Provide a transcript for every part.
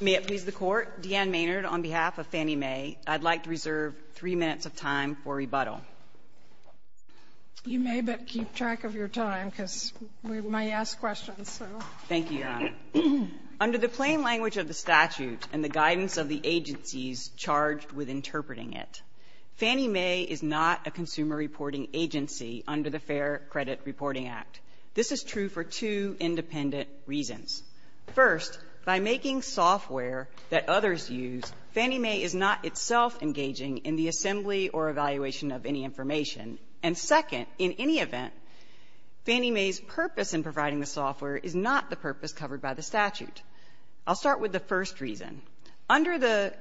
May it please the Court, Deanne Maynard, on behalf of Fannie Mae, I'd like to reserve three minutes of time for rebuttal. You may, but keep track of your time because we may ask questions. Thank you, Your Honor. Under the plain language of the statute and the guidance of the agencies charged with interpreting it, Fannie Mae is not a consumer reporting agency under the Fair Credit Reporting Act. This is true for two independent reasons. First, by making software that others use, Fannie Mae is not itself engaging in the assembly or evaluation of any information. And second, in any event, Fannie Mae's purpose in providing the software is not the purpose covered by the statute. I'll start with the first reason. Under the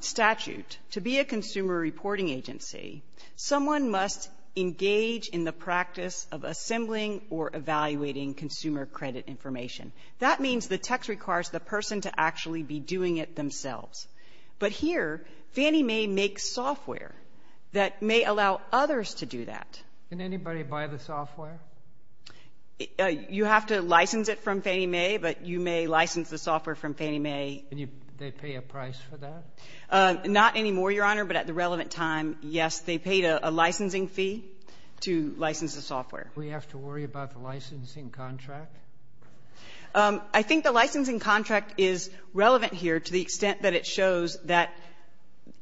statute, to be a consumer reporting agency, someone must engage in the practice of assembling or evaluating consumer credit information. That means the text requires the person to actually be doing it themselves. But here, Fannie Mae makes software that may allow others to do that. Can anybody buy the software? You have to license it from Fannie Mae, but you may license the software from Fannie Mae. Can they pay a price for that? Not anymore, Your Honor, but at the relevant time, yes, they paid a licensing fee to license the software. Do we have to worry about the licensing contract? I think the licensing contract is relevant here to the extent that it shows that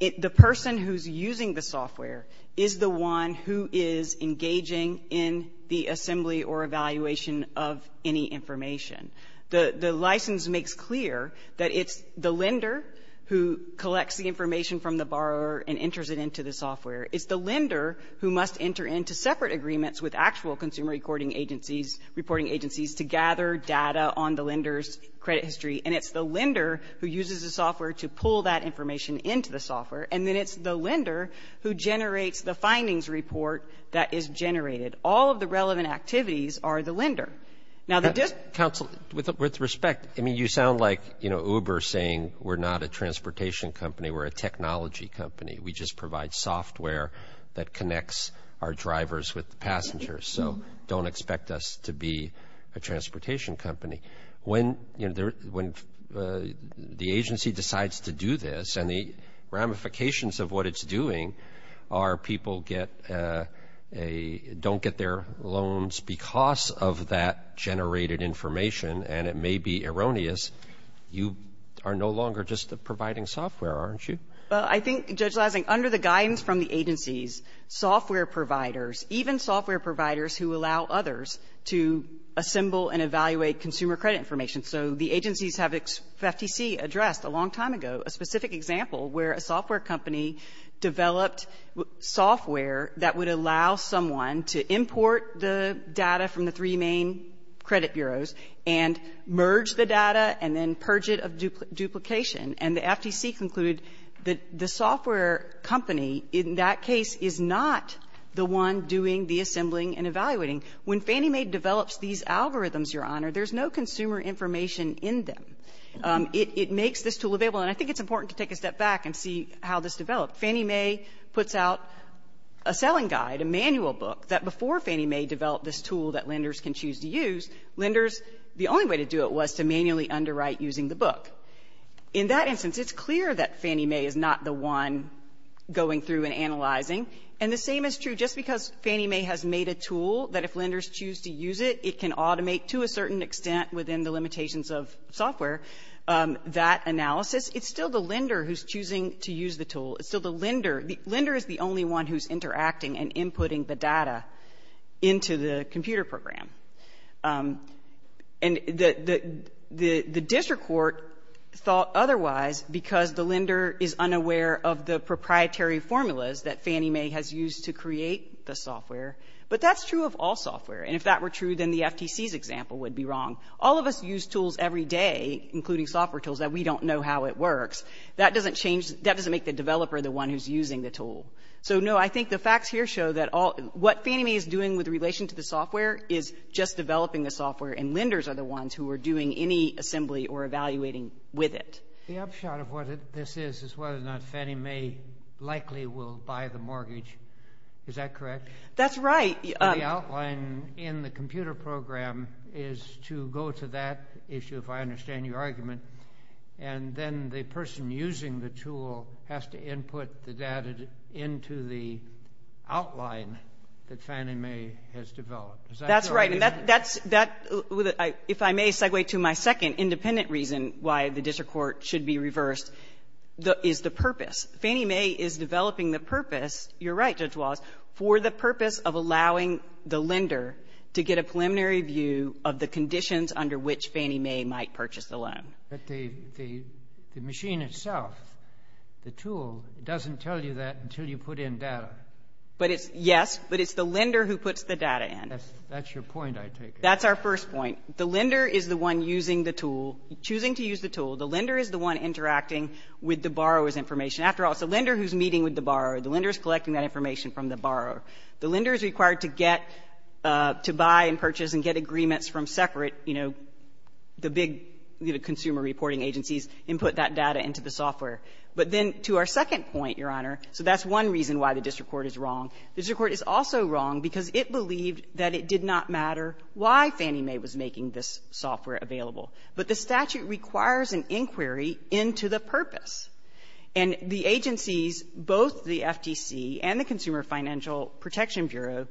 the person who's using the software is the one who is engaging in the assembly or evaluation of any information. The license makes clear that it's the lender who collects the information from the borrower and enters it into the software. It's the lender who must enter into separate agreements with actual consumer reporting agencies to gather data on the lender's credit history. And it's the lender who uses the software to pull that information into the software. And then it's the lender who generates the findings report that is generated. All of the relevant activities are the lender. Now, the dis- Counsel, with respect, I mean, you sound like, you know, Uber saying we're not a transportation company, we're a technology company. We just provide software that provides drivers with passengers, so don't expect us to be a transportation company. When, you know, the agency decides to do this, and the ramifications of what it's doing are people get a don't get their loans because of that generated information and it may be erroneous, you are no longer just providing software, aren't you? Well, I think, Judge Leisling, under the guidance from the agencies, software providers, even software providers who allow others to assemble and evaluate consumer credit information, so the agencies have FTC addressed a long time ago a specific example where a software company developed software that would allow someone to import the data from the three main credit bureaus and merge the data and then purge it of duplication. And the FTC concluded that the software company in that case is not the one doing the assembling and evaluating. When Fannie Mae develops these algorithms, Your Honor, there's no consumer information in them. It makes this tool available. And I think it's important to take a step back and see how this developed. Fannie Mae puts out a selling guide, a manual book, that before Fannie Mae developed this tool that lenders can choose to use, lenders, the only way to do it was to manually underwrite using the book. In that instance, it's clear that Fannie Mae is not the one going through and analyzing. And the same is true, just because Fannie Mae has made a tool that if lenders choose to use it, it can automate to a certain extent within the limitations of software, that analysis, it's still the lender who's choosing to use the tool. It's still the lender. The lender is the only one who's The district court thought otherwise because the lender is unaware of the proprietary formulas that Fannie Mae has used to create the software. But that's true of all software. And if that were true, then the FTC's example would be wrong. All of us use tools every day, including software tools, that we don't know how it works. That doesn't change the debt to make the developer the one who's using the tool. So, no, I think the facts here show that what Fannie Mae is doing with relation to the software is just with it. The upshot of what this is, is whether or not Fannie Mae likely will buy the mortgage. Is that correct? That's right. The outline in the computer program is to go to that issue, if I understand your argument, and then the person using the tool has to input the data into the outline that Fannie Mae has developed. Is that correct? That's correct. And that's, that, if I may segue to my second independent reason why the district court should be reversed, is the purpose. Fannie Mae is developing the purpose, you're right, Judge Wallace, for the purpose of allowing the lender to get a preliminary view of the conditions under which Fannie Mae might purchase the loan. But the machine itself, the tool, doesn't tell you that until you put in data. But it's, yes, but it's the lender who puts the data in. That's your point, I take it. That's our first point. The lender is the one using the tool, choosing to use the tool. The lender is the one interacting with the borrower's information. After all, it's the lender who's meeting with the borrower. The lender is collecting that information from the borrower. The lender is required to get, to buy and purchase and get agreements from separate, you know, the big, you know, consumer reporting agencies and put that data into the software. But then, to our second point, Your Honor, so that's one reason why the district court is wrong. The district court is also wrong because it believed that it did not matter why Fannie Mae was making this software available. But the statute requires an inquiry into the purpose. And the agencies, both the FTC and the Consumer Financial Protection Bureau,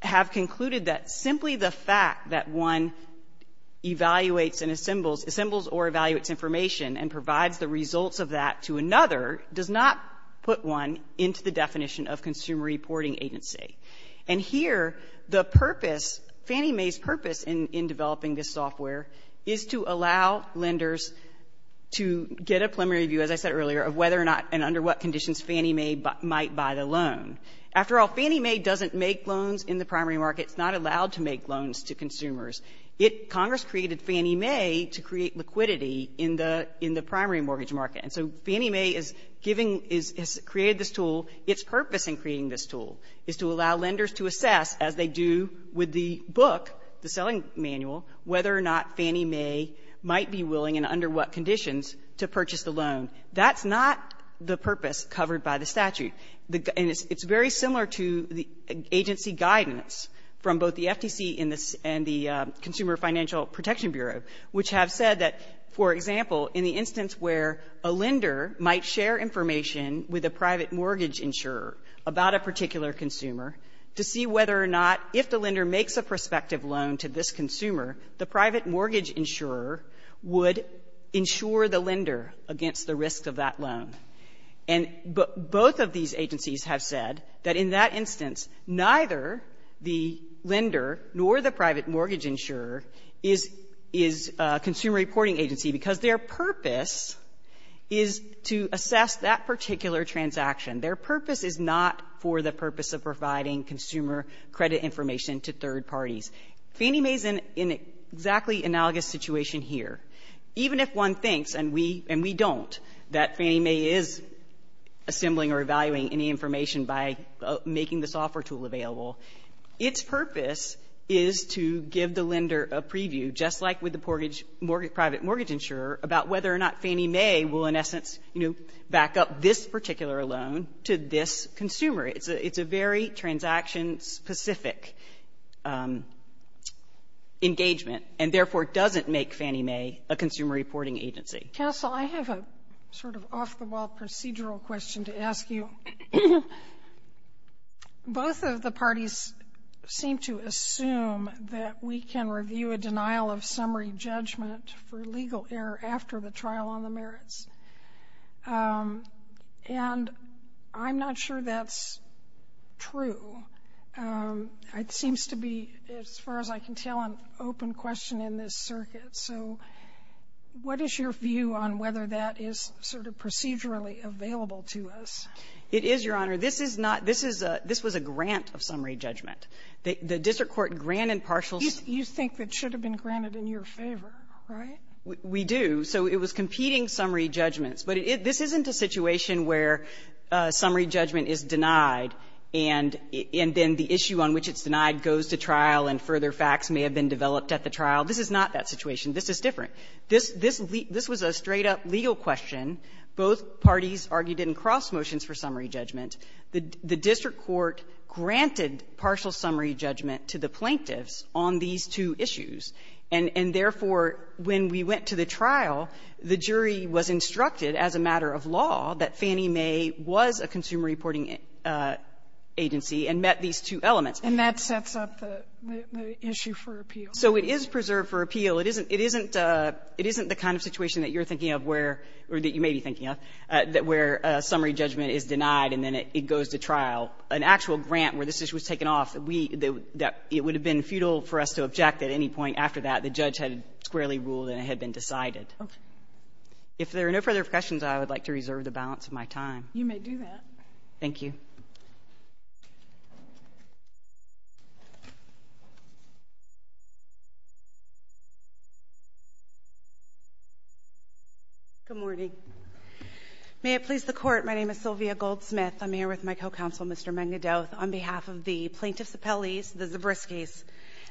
have concluded that simply the fact that one evaluates and assembles, assembles or evaluates information and provides the results of that to another does not put one into the definition of consumer reporting agency. And here, the purpose, Fannie Mae's purpose in developing this software is to allow lenders to get a preliminary view, as I said earlier, of whether or not and under what conditions Fannie Mae might buy the loan. After all, Fannie Mae doesn't make loans in the primary market. It's not allowed to make loans to consumers. Congress created Fannie Mae to create liquidity in the primary mortgage market. And so Fannie Mae is giving, has created this tool. Its purpose in creating this tool is to allow lenders to assess, as they do with the book, the selling manual, whether or not Fannie Mae might be willing and under what conditions to purchase the loan. That's not the purpose covered by the statute. And it's very similar to the agency guidance from both the FTC and the Consumer Financial Protection Bureau, which have said that, for example, in the instance where a lender might share information with a private mortgage insurer about a particular consumer, to see whether or not, if the lender makes a prospective loan to this consumer, the private mortgage insurer would insure the lender against the risk of that loan. And both of these agencies have said that in that instance, neither the lender nor the private mortgage insurer is a consumer reporting agency, because their purpose is to assess that particular transaction. Their purpose is not for the purpose of providing consumer credit information to third parties. Fannie Mae is in an exactly analogous situation here. Even if one thinks, and we don't, that Fannie Mae is assembling or evaluating any information by making the software tool available, its purpose is to give the lender a preview, just like with the private mortgage insurer, about whether or not Fannie Mae will, in essence, you know, back up this particular loan to this consumer. It's a very transaction-specific engagement, and therefore doesn't make Fannie Mae a consumer reporting agency. Castle, I have a sort of off-the-wall procedural question to ask you. Both of the trial on the merits. And I'm not sure that's true. It seems to be, as far as I can tell, an open question in this circuit. So what is your view on whether that is sort of procedurally available to us? It is, Your Honor. This is not this is a this was a grant of summary judgment. The district court granted partial You think that should have been granted in your favor, right? We do. So it was competing summary judgments. But this isn't a situation where summary judgment is denied, and then the issue on which it's denied goes to trial, and further facts may have been developed at the trial. This is not that situation. This is different. This was a straight-up legal question. Both parties argued in cross-motions for summary judgment. The district court granted partial summary judgment to the plaintiffs on these two issues. And therefore, when we went to the trial, the jury was instructed as a matter of law that Fannie Mae was a consumer reporting agency and met these two elements. And that sets up the issue for appeal. So it is preserved for appeal. It isn't the kind of situation that you're thinking of where or that you may be thinking of where summary judgment is denied and then it goes to trial. An actual grant where this issue was taken off, it would have been futile for us to object at any point after that. The judge had squarely ruled and it had been decided. Okay. If there are no further questions, I would like to reserve the balance of my time. You may do that. Thank you. Good morning. May it please the Court, my name is Sylvia Goldsmith. I'm here with my co-counsel, Mr. Mangandoth, on behalf of the Plaintiffs Appellees, the Zabriskis.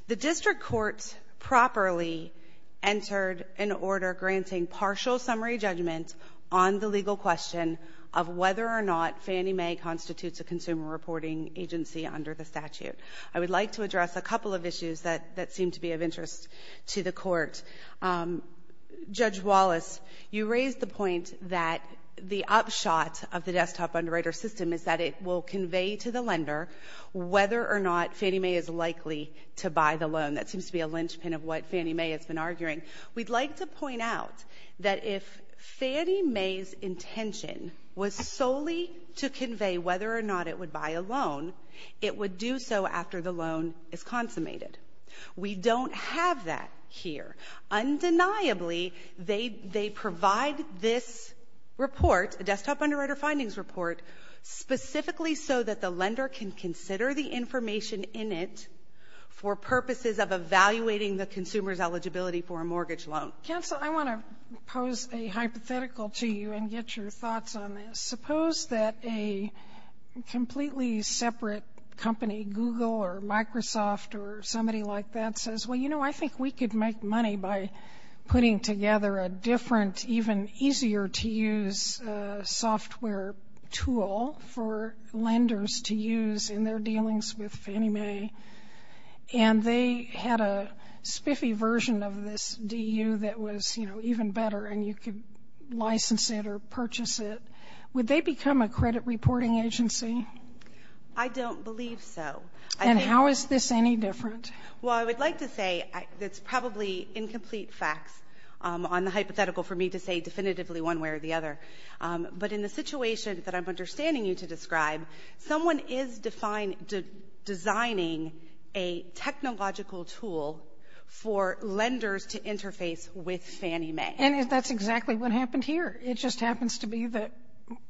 The district court properly entered an order granting partial summary judgment on the legal question of whether or not Fannie Mae constitutes a consumer reporting agency under the statute. I would like to address a couple of issues that seem to be of interest to the Court. Judge Wallace, you raised the point that the upshot of the desktop underwriter system is that it will convey to the lender whether or not Fannie Mae is likely to buy the loan. That seems to be a linchpin of what Fannie Mae has been arguing. We'd like to point out that if Fannie Mae's intention was solely to convey whether or not it would buy a loan, it would do so after the loan is consummated. We don't have that here. Undeniably, they provide this report, a desktop underwriter findings report, specifically so that the lender can consider the information in it for purposes of evaluating the consumer's eligibility for a mortgage loan. Counsel, I want to pose a hypothetical to you and get your thoughts on this. Suppose that a completely separate company, Google or Microsoft or somebody like that, says, well, you know, I think we could make money by putting together a different, even easier to use software tool for lenders to use in their dealings with Fannie Mae. And they had a spiffy version of this DU that was, you know, even better, and you could license it or purchase it. Would they become a credit reporting agency? I don't believe so. And how is this any different? Well, I would like to say that's probably incomplete facts on the hypothetical for me to say definitively one way or the other. But in the situation that I'm understanding you to describe, someone is designing a technological tool for lenders to interface with Fannie Mae. And that's exactly what happened here. It just happens to be that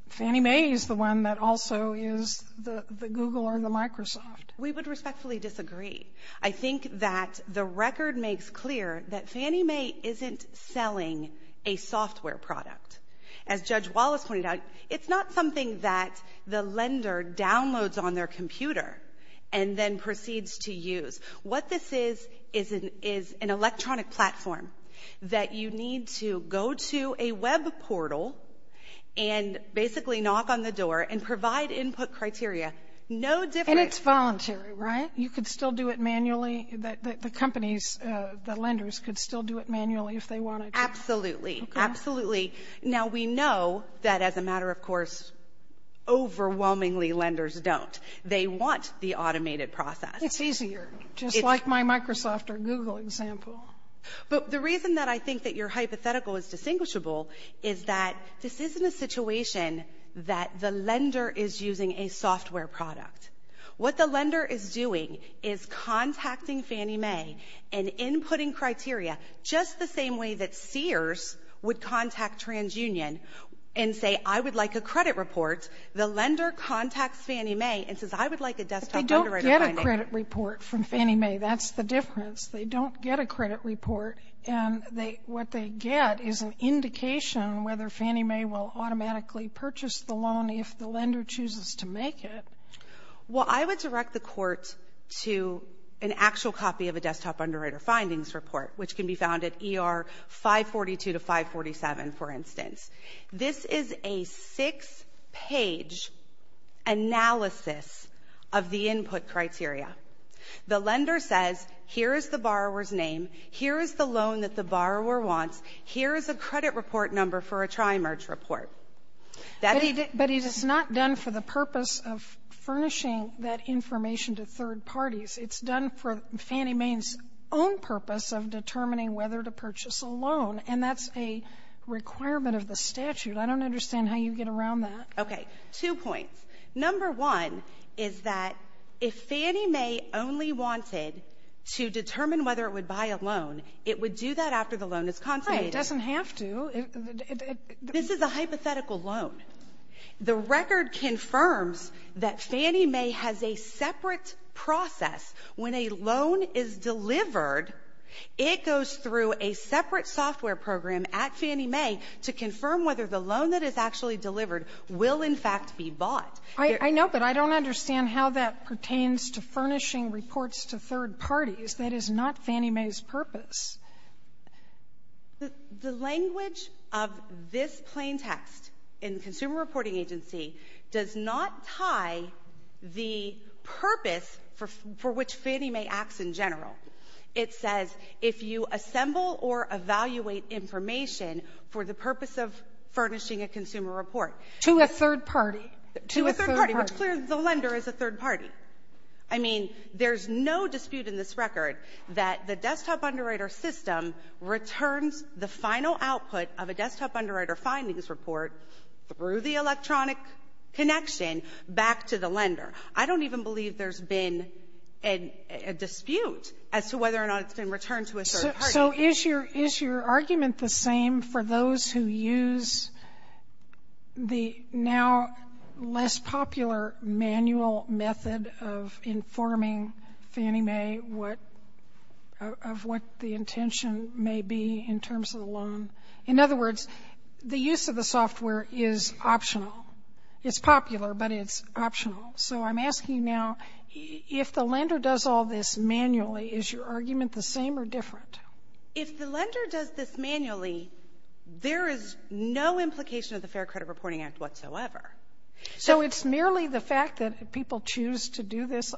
Fannie Mae is the one that also is the Google or the Microsoft. We would respectfully disagree. I think that the record makes clear that Fannie Mae isn't selling a software product. As Judge Wallace pointed out, it's not something that the lender downloads on their computer and then proceeds to use. What this is, is an electronic platform that you need to go to a web portal and basically knock on the door and provide input criteria. And it's voluntary, right? You could still do it manually? The companies, the lenders could still do it manually if they wanted to? Absolutely. Absolutely. Now, we know that as a matter of course, overwhelmingly, lenders don't. They want the automated process. It's easier, just like my Microsoft or Google example. But the reason that I think that your hypothetical is distinguishable is that this isn't a situation that the lender is using a software product. What the lender is doing is contacting Fannie Mae and inputting criteria, just the same way that Sears would contact TransUnion and say, I would like a credit report. The lender contacts Fannie Mae and says, I would like a desktop underwriting. But they don't get a credit report from Fannie Mae. That's the difference. They don't get a credit report, and what they get is an indication whether Fannie Mae will automatically purchase the loan if the lender chooses to make it. Well, I would direct the court to an actual copy of a desktop underwriter findings report, which can be found at ER 542 to 547, for instance. This is a six-page analysis of the input criteria. The lender says, here is the borrower's name, here is the loan that the borrower wants, here is a credit report number for a tri-merge report. But it is not done for the purpose of furnishing that information to third parties. It's done for Fannie Mae's own purpose of determining whether to purchase a loan, and that's a requirement of the statute. I don't understand how you get around that. Okay. Two points. Number one is that if Fannie Mae only wanted to determine whether it would buy a loan, it would do that after the loan is consummated. Right. It doesn't have to. This is a hypothetical loan. The record confirms that Fannie Mae has a separate process. When a loan is delivered, it goes through a separate software program at Fannie Mae to confirm whether the loan that is actually delivered will, in fact, be bought. I know, but I don't understand how that pertains to furnishing reports to third parties. That is not Fannie Mae's purpose. The language of this plain text in the Consumer Reporting Agency does not tie the purpose for which Fannie Mae acts in general. It says, if you assemble or evaluate information for the purpose of furnishing a consumer report to a third party, which, clearly, the lender is a third party. I mean, there's no dispute in this record that the desktop underwriter system returns the final output of a desktop underwriter findings report through the electronic connection back to the lender. I don't even believe there's been a dispute as to whether or not it's been returned to a third party. So is your argument the same for those who use the now less popular manual method of informing Fannie Mae of what the intention may be in terms of the loan? In other words, the use of the software is optional. It's popular, but it's optional. So I'm asking now, if the lender does all this manually, is your argument the same or different? If the lender does this manually, there is no implication of the Fair Credit Reporting Act whatsoever. So it's merely the fact that people choose to do this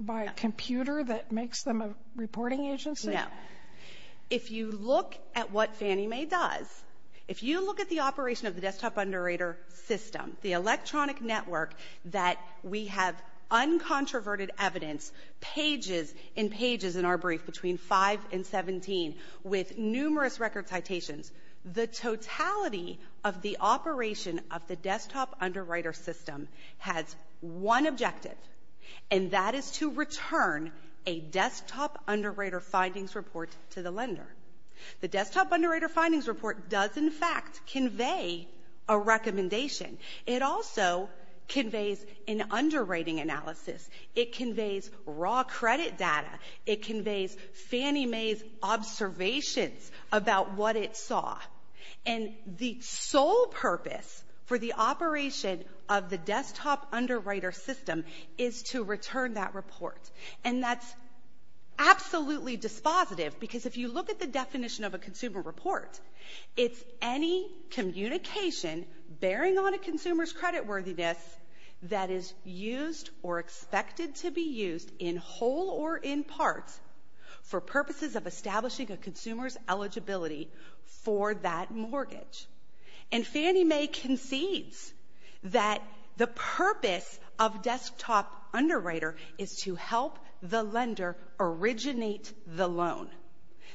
by a computer that makes them a reporting agency? No. If you look at what Fannie Mae does, if you look at the operation of the desktop underwriter system, the electronic network that we have uncontroverted evidence, pages and pages in our brief between 5 and 17, with numerous record citations, the totality of the operation of the desktop underwriter system has one objective, and that is to return a desktop underwriter findings report to the lender. The desktop underwriter findings report does, in fact, convey a recommendation. It also conveys an underwriting analysis. It conveys raw credit data. It conveys Fannie Mae's observations about what it saw. And the sole purpose for the operation of the desktop underwriter system is to return that report. And that's absolutely dispositive, because if you look at the definition of a consumer report, it's any communication bearing on a consumer's creditworthiness that is used or expected to be used in whole or in part for purposes of establishing a consumer's eligibility for that mortgage. And Fannie Mae concedes that the purpose of desktop underwriter is to help the lender originate the loan.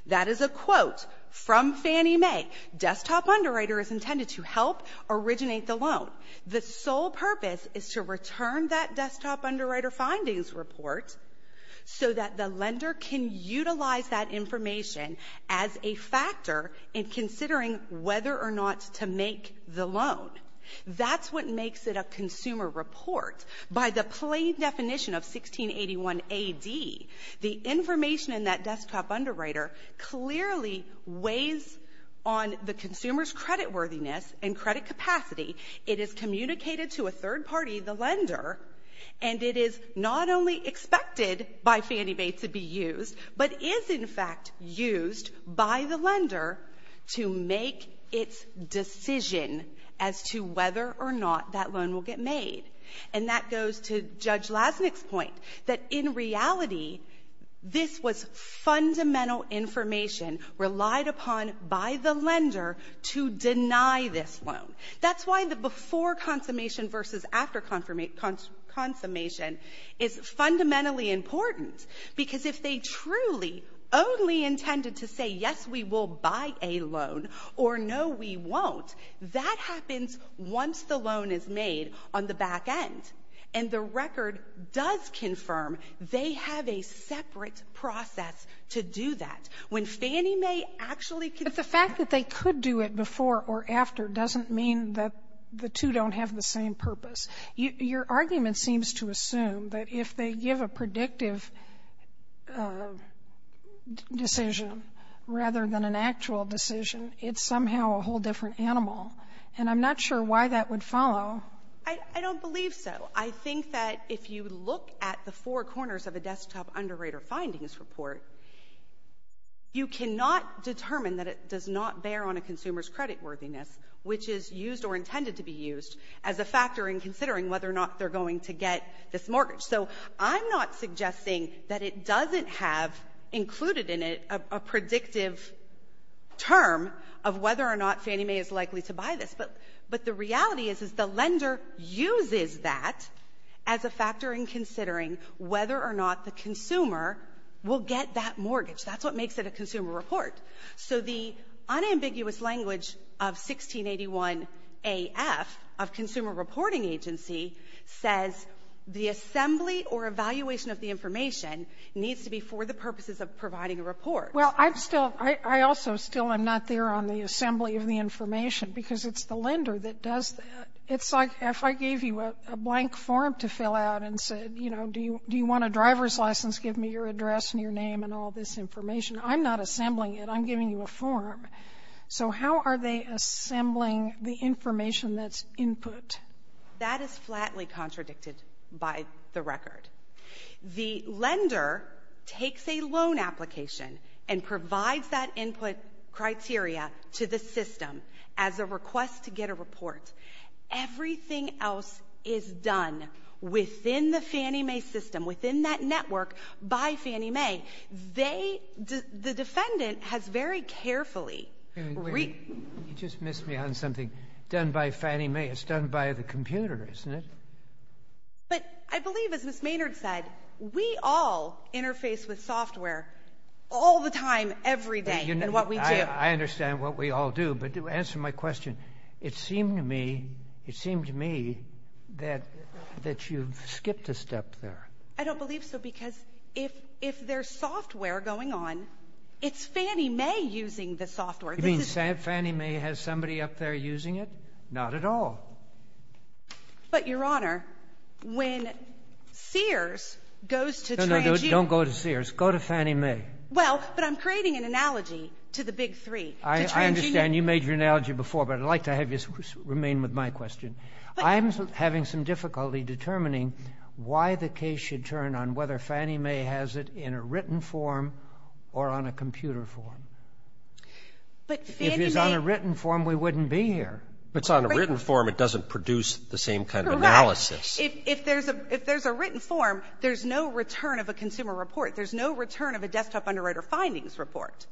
That is a quote from Fannie Mae. Desktop underwriter is intended to help originate the loan. The sole purpose is to return that desktop underwriter findings report so that the lender can utilize that information as a factor in considering whether or not to make the loan. That's what makes it a consumer report. By the plain definition of 1681 A.D., the information in that desktop underwriter clearly weighs on the consumer's creditworthiness and credit capacity. It is communicated to a third party, the lender, and it is not only expected by Fannie Mae to be used, but is, in fact, used by the lender to make its decision as to whether or not that loan will get made. And that goes to Judge Lasnik's point, that in reality, this was fundamental information relied upon by the lender to deny this loan. That's why the before consummation versus after consummation is fundamentally important, because if they truly only intended to say, yes, we will buy a loan or no, we won't, that happens once the loan is made on the back end. And the record does confirm they have a separate process to do that. When Fannie Mae actually. But the fact that they could do it before or after doesn't mean that the two don't have the same purpose. Your argument seems to assume that if they give a predictive decision rather than an actual decision, it's somehow a whole different animal. And I'm not sure why that would follow. I don't believe so. I think that if you look at the four corners of a desktop underwriter findings report, you cannot determine that it does not bear on a consumer's creditworthiness, which is used or considering whether or not they're going to get this mortgage. So I'm not suggesting that it doesn't have included in it a predictive term of whether or not Fannie Mae is likely to buy this. But the reality is, is the lender uses that as a factor in considering whether or not the consumer will get that mortgage. That's what makes it a consumer report. So the unambiguous language of 1681 A.F. of Consumer Reporting Agency says the assembly or evaluation of the information needs to be for the purposes of providing a report. Well, I'm still I also still I'm not there on the assembly of the information because it's the lender that does that. It's like if I gave you a blank form to fill out and said, you know, do you do you want a driver's license? Give me your address and your name and all this information. I'm not assembling it. I'm giving you a form. So how are they assembling the information that's input? That is flatly contradicted by the record. The lender takes a loan application and provides that input criteria to the system as a request to get a report. Everything else is done within the Fannie Mae system, within that network by Fannie Mae. They the defendant has very carefully. You just missed me on something done by Fannie Mae. It's done by the computer, isn't it? But I believe, as Ms. Maynard said, we all interface with software all the time, every day in what we do. I understand what we all do. But to answer my question, it seemed to me, it seemed to me that that you skipped a step there. I don't believe so, because if if there's software going on, it's Fannie Mae using the software. You mean Fannie Mae has somebody up there using it? Not at all. But your honor, when Sears goes to. No, no, don't go to Sears, go to Fannie Mae. Well, but I'm creating an analogy to the big three. I understand you made your analogy before, but I'd like to have you remain with my question. I'm having some difficulty determining why the case should turn on whether Fannie Mae has it in a written form or on a computer form. But if it's on a written form, we wouldn't be here. If it's on a written form, it doesn't produce the same kind of analysis. If there's a if there's a written form, there's no return of a consumer report. There's no return of a desktop underwriter findings report.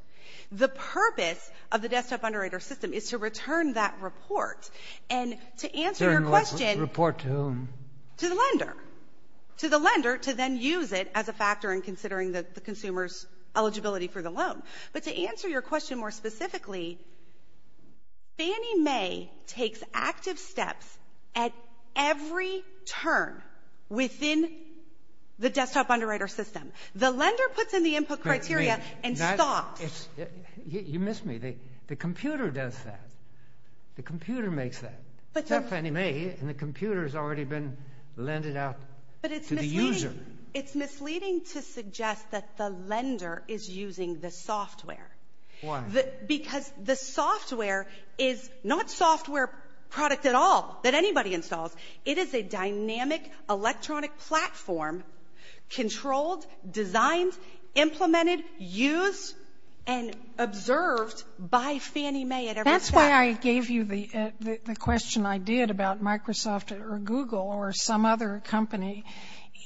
The purpose of the desktop underwriter system is to return that report. And to answer your question. Report to whom? To the lender. To the lender to then use it as a factor in considering the consumer's eligibility for the loan. But to answer your question more specifically, Fannie Mae takes active steps at every turn within the desktop underwriter system. The lender puts in the input criteria and stops. You missed me. The computer does that. The computer makes that. Except Fannie Mae, and the computer's already been lended out to the user. It's misleading to suggest that the lender is using the software. Why? Because the software is not software product at all that anybody installs. It is a dynamic electronic platform controlled, designed, implemented, used, and observed by Fannie Mae at every step. And that's why I gave you the question I did about Microsoft or Google or some other company.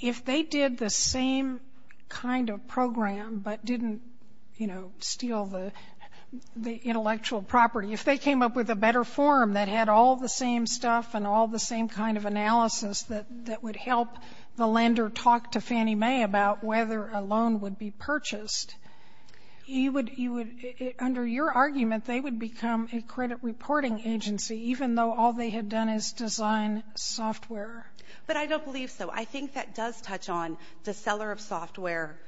If they did the same kind of program but didn't, you know, steal the intellectual property. If they came up with a better form that had all the same stuff and all the same kind of analysis that would help the lender talk to Fannie Mae about whether a loan would be purchased. You would, under your argument, they would become a credit reporting agency even though all they had done is design software. But I don't believe so. I think that does touch on the seller of software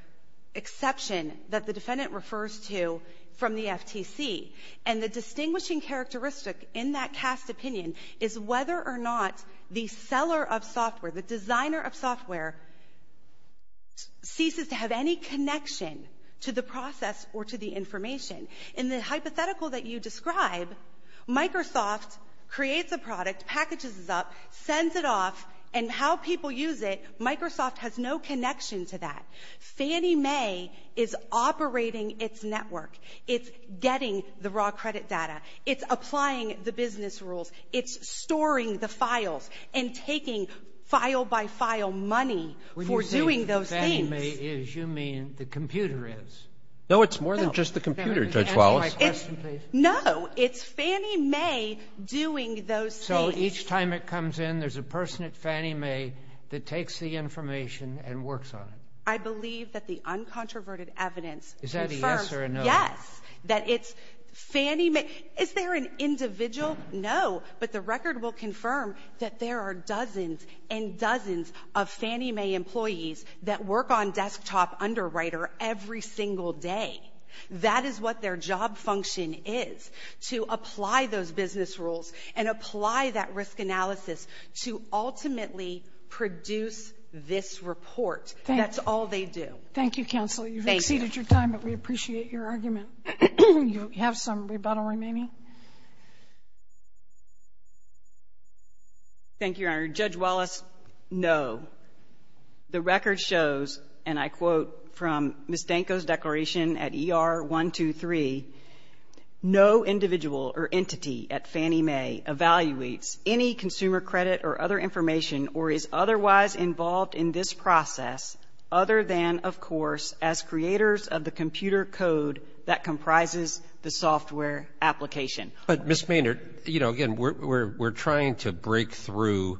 exception that the defendant refers to from the FTC. And the distinguishing characteristic in that cast opinion is whether or not the seller of software, the designer of software, ceases to have any connection to the process or to the information. In the hypothetical that you describe, Microsoft creates a product, packages it up, sends it off, and how people use it, Microsoft has no connection to that. Fannie Mae is operating its network. It's getting the raw credit data. It's applying the business rules. It's storing the files and taking file by file money for doing those things. When you say Fannie Mae is, you mean the computer is. No, it's more than just the computer, Judge Wallace. Can I just answer my question, please? No, it's Fannie Mae doing those things. So each time it comes in, there's a person at Fannie Mae that takes the information and works on it. I believe that the uncontroverted evidence confirms. Is that a yes or a no? Yes. That it's Fannie Mae. Is there an individual? No, but the record will confirm that there are dozens and dozens of Fannie Mae employees that work on desktop underwriter every single day. That is what their job function is, to apply those business rules and apply that risk analysis to ultimately produce this report. That's all they do. Thank you, counsel. You've exceeded your time, but we appreciate your argument. You have some rebuttal remaining? Thank you, Your Honor. Judge Wallace, no. The record shows, and I quote from Ms. Danko's declaration at ER 123, no individual or entity at Fannie Mae evaluates any consumer credit or other information or is otherwise involved in this process other than, of course, as creators of the computer code that comprises the software application. But Ms. Maynard, again, we're trying to break through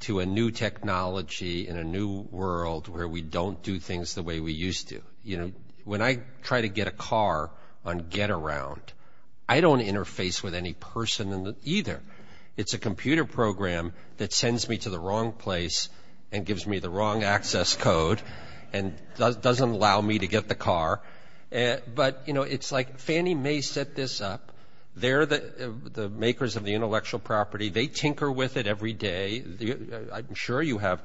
to a new technology in a new world where we don't do things the way we used to. When I try to get a car on Getaround, I don't interface with any person in it either. It's a computer program that sends me to the wrong place and gives me the wrong access code and doesn't allow me to get the car. But, you know, it's like Fannie Mae set this up. They're the makers of the intellectual property. They tinker with it every day. I'm sure you have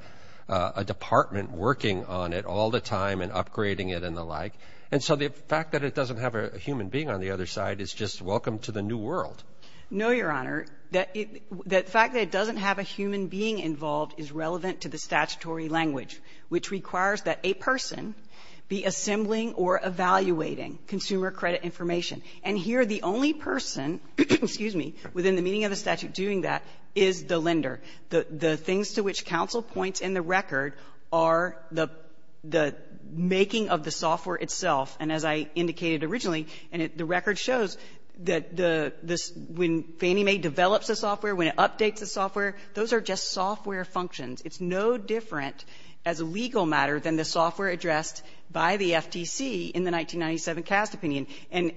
a department working on it all the time and upgrading it and the like. And so the fact that it doesn't have a human being on the other side is just welcome to the new world. No, Your Honor. The fact that it doesn't have a human being involved is relevant to the statutory language, which requires that a person be assembling or evaluating consumer credit information. And here the only person, excuse me, within the meaning of the statute doing that is the lender. The things to which counsel points in the record are the making of the software itself. And as I indicated originally, and the record shows that when Fannie Mae develops the software, when it updates the software, those are just software functions. It's no different as a legal matter than the software addressed by the FTC in the 1997 CAST opinion. And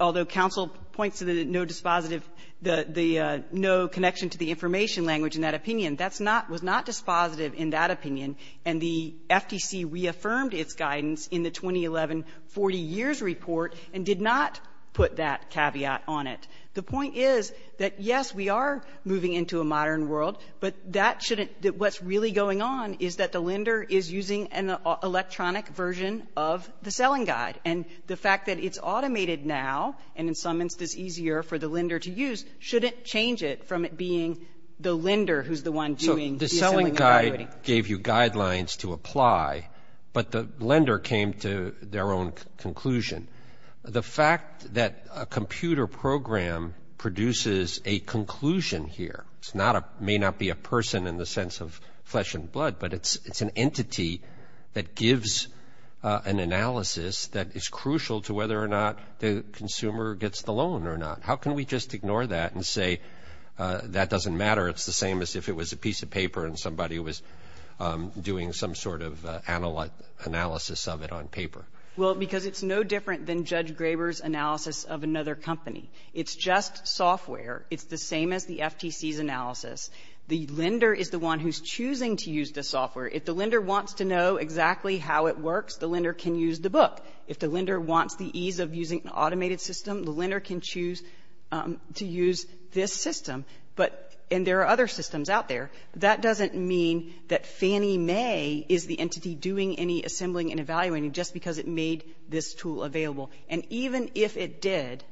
although counsel points to the no dispositive, the no connection to the information language in that opinion, that's not, was not dispositive in that opinion. And the FTC reaffirmed its guidance in the 2011 40 years report and did not put that caveat on it. The point is that, yes, we are moving into a modern world, but that shouldn't, what's really going on is that the lender is using an electronic version of the selling guide. And the fact that it's automated now, and in some instance easier for the lender to use, shouldn't change it from it being the lender who's the one doing the assembling and evaluating. So the selling guide gave you guidelines to apply, but the lender came to their own conclusion. The fact that a computer program produces a conclusion here, it's not a, may not be a person in the sense of flesh and blood, but it's an entity that gives an analysis that is crucial to whether or not the consumer gets the loan or not. How can we just ignore that and say, that doesn't matter, it's the same as if it was a piece of paper and somebody was doing some sort of analysis of it on paper. Well, because it's no different than Judge Graber's analysis of another company. It's just software. It's the same as the FTC's analysis. The lender is the one who's choosing to use the software. If the lender wants to know exactly how it works, the lender can use the book. If the lender wants the ease of using an automated system, the lender can choose to use this system. But, and there are other systems out there. That doesn't mean that Fannie Mae is the entity doing any assembling and evaluating just because it made this tool available. And even if it did,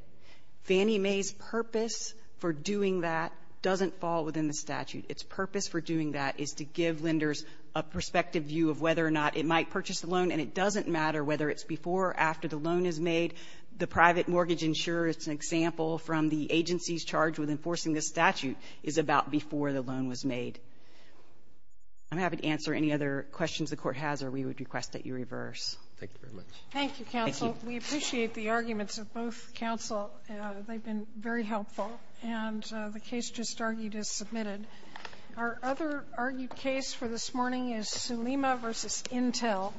Fannie Mae's purpose for doing that doesn't fall within the statute. Its purpose for doing that is to give lenders a perspective view of whether or not it might purchase the loan, and it doesn't matter whether it's before or after the loan is made. The private mortgage insurer, it's an example from the agency's charge with enforcing this statute, is about before the loan was made. I'm happy to answer any other questions the court has, or we would request that you reverse. Thank you very much. Thank you, counsel. We appreciate the arguments of both counsel. They've been very helpful, and the case just argued is submitted. Our other argued case for this morning is Sulema v. Intel.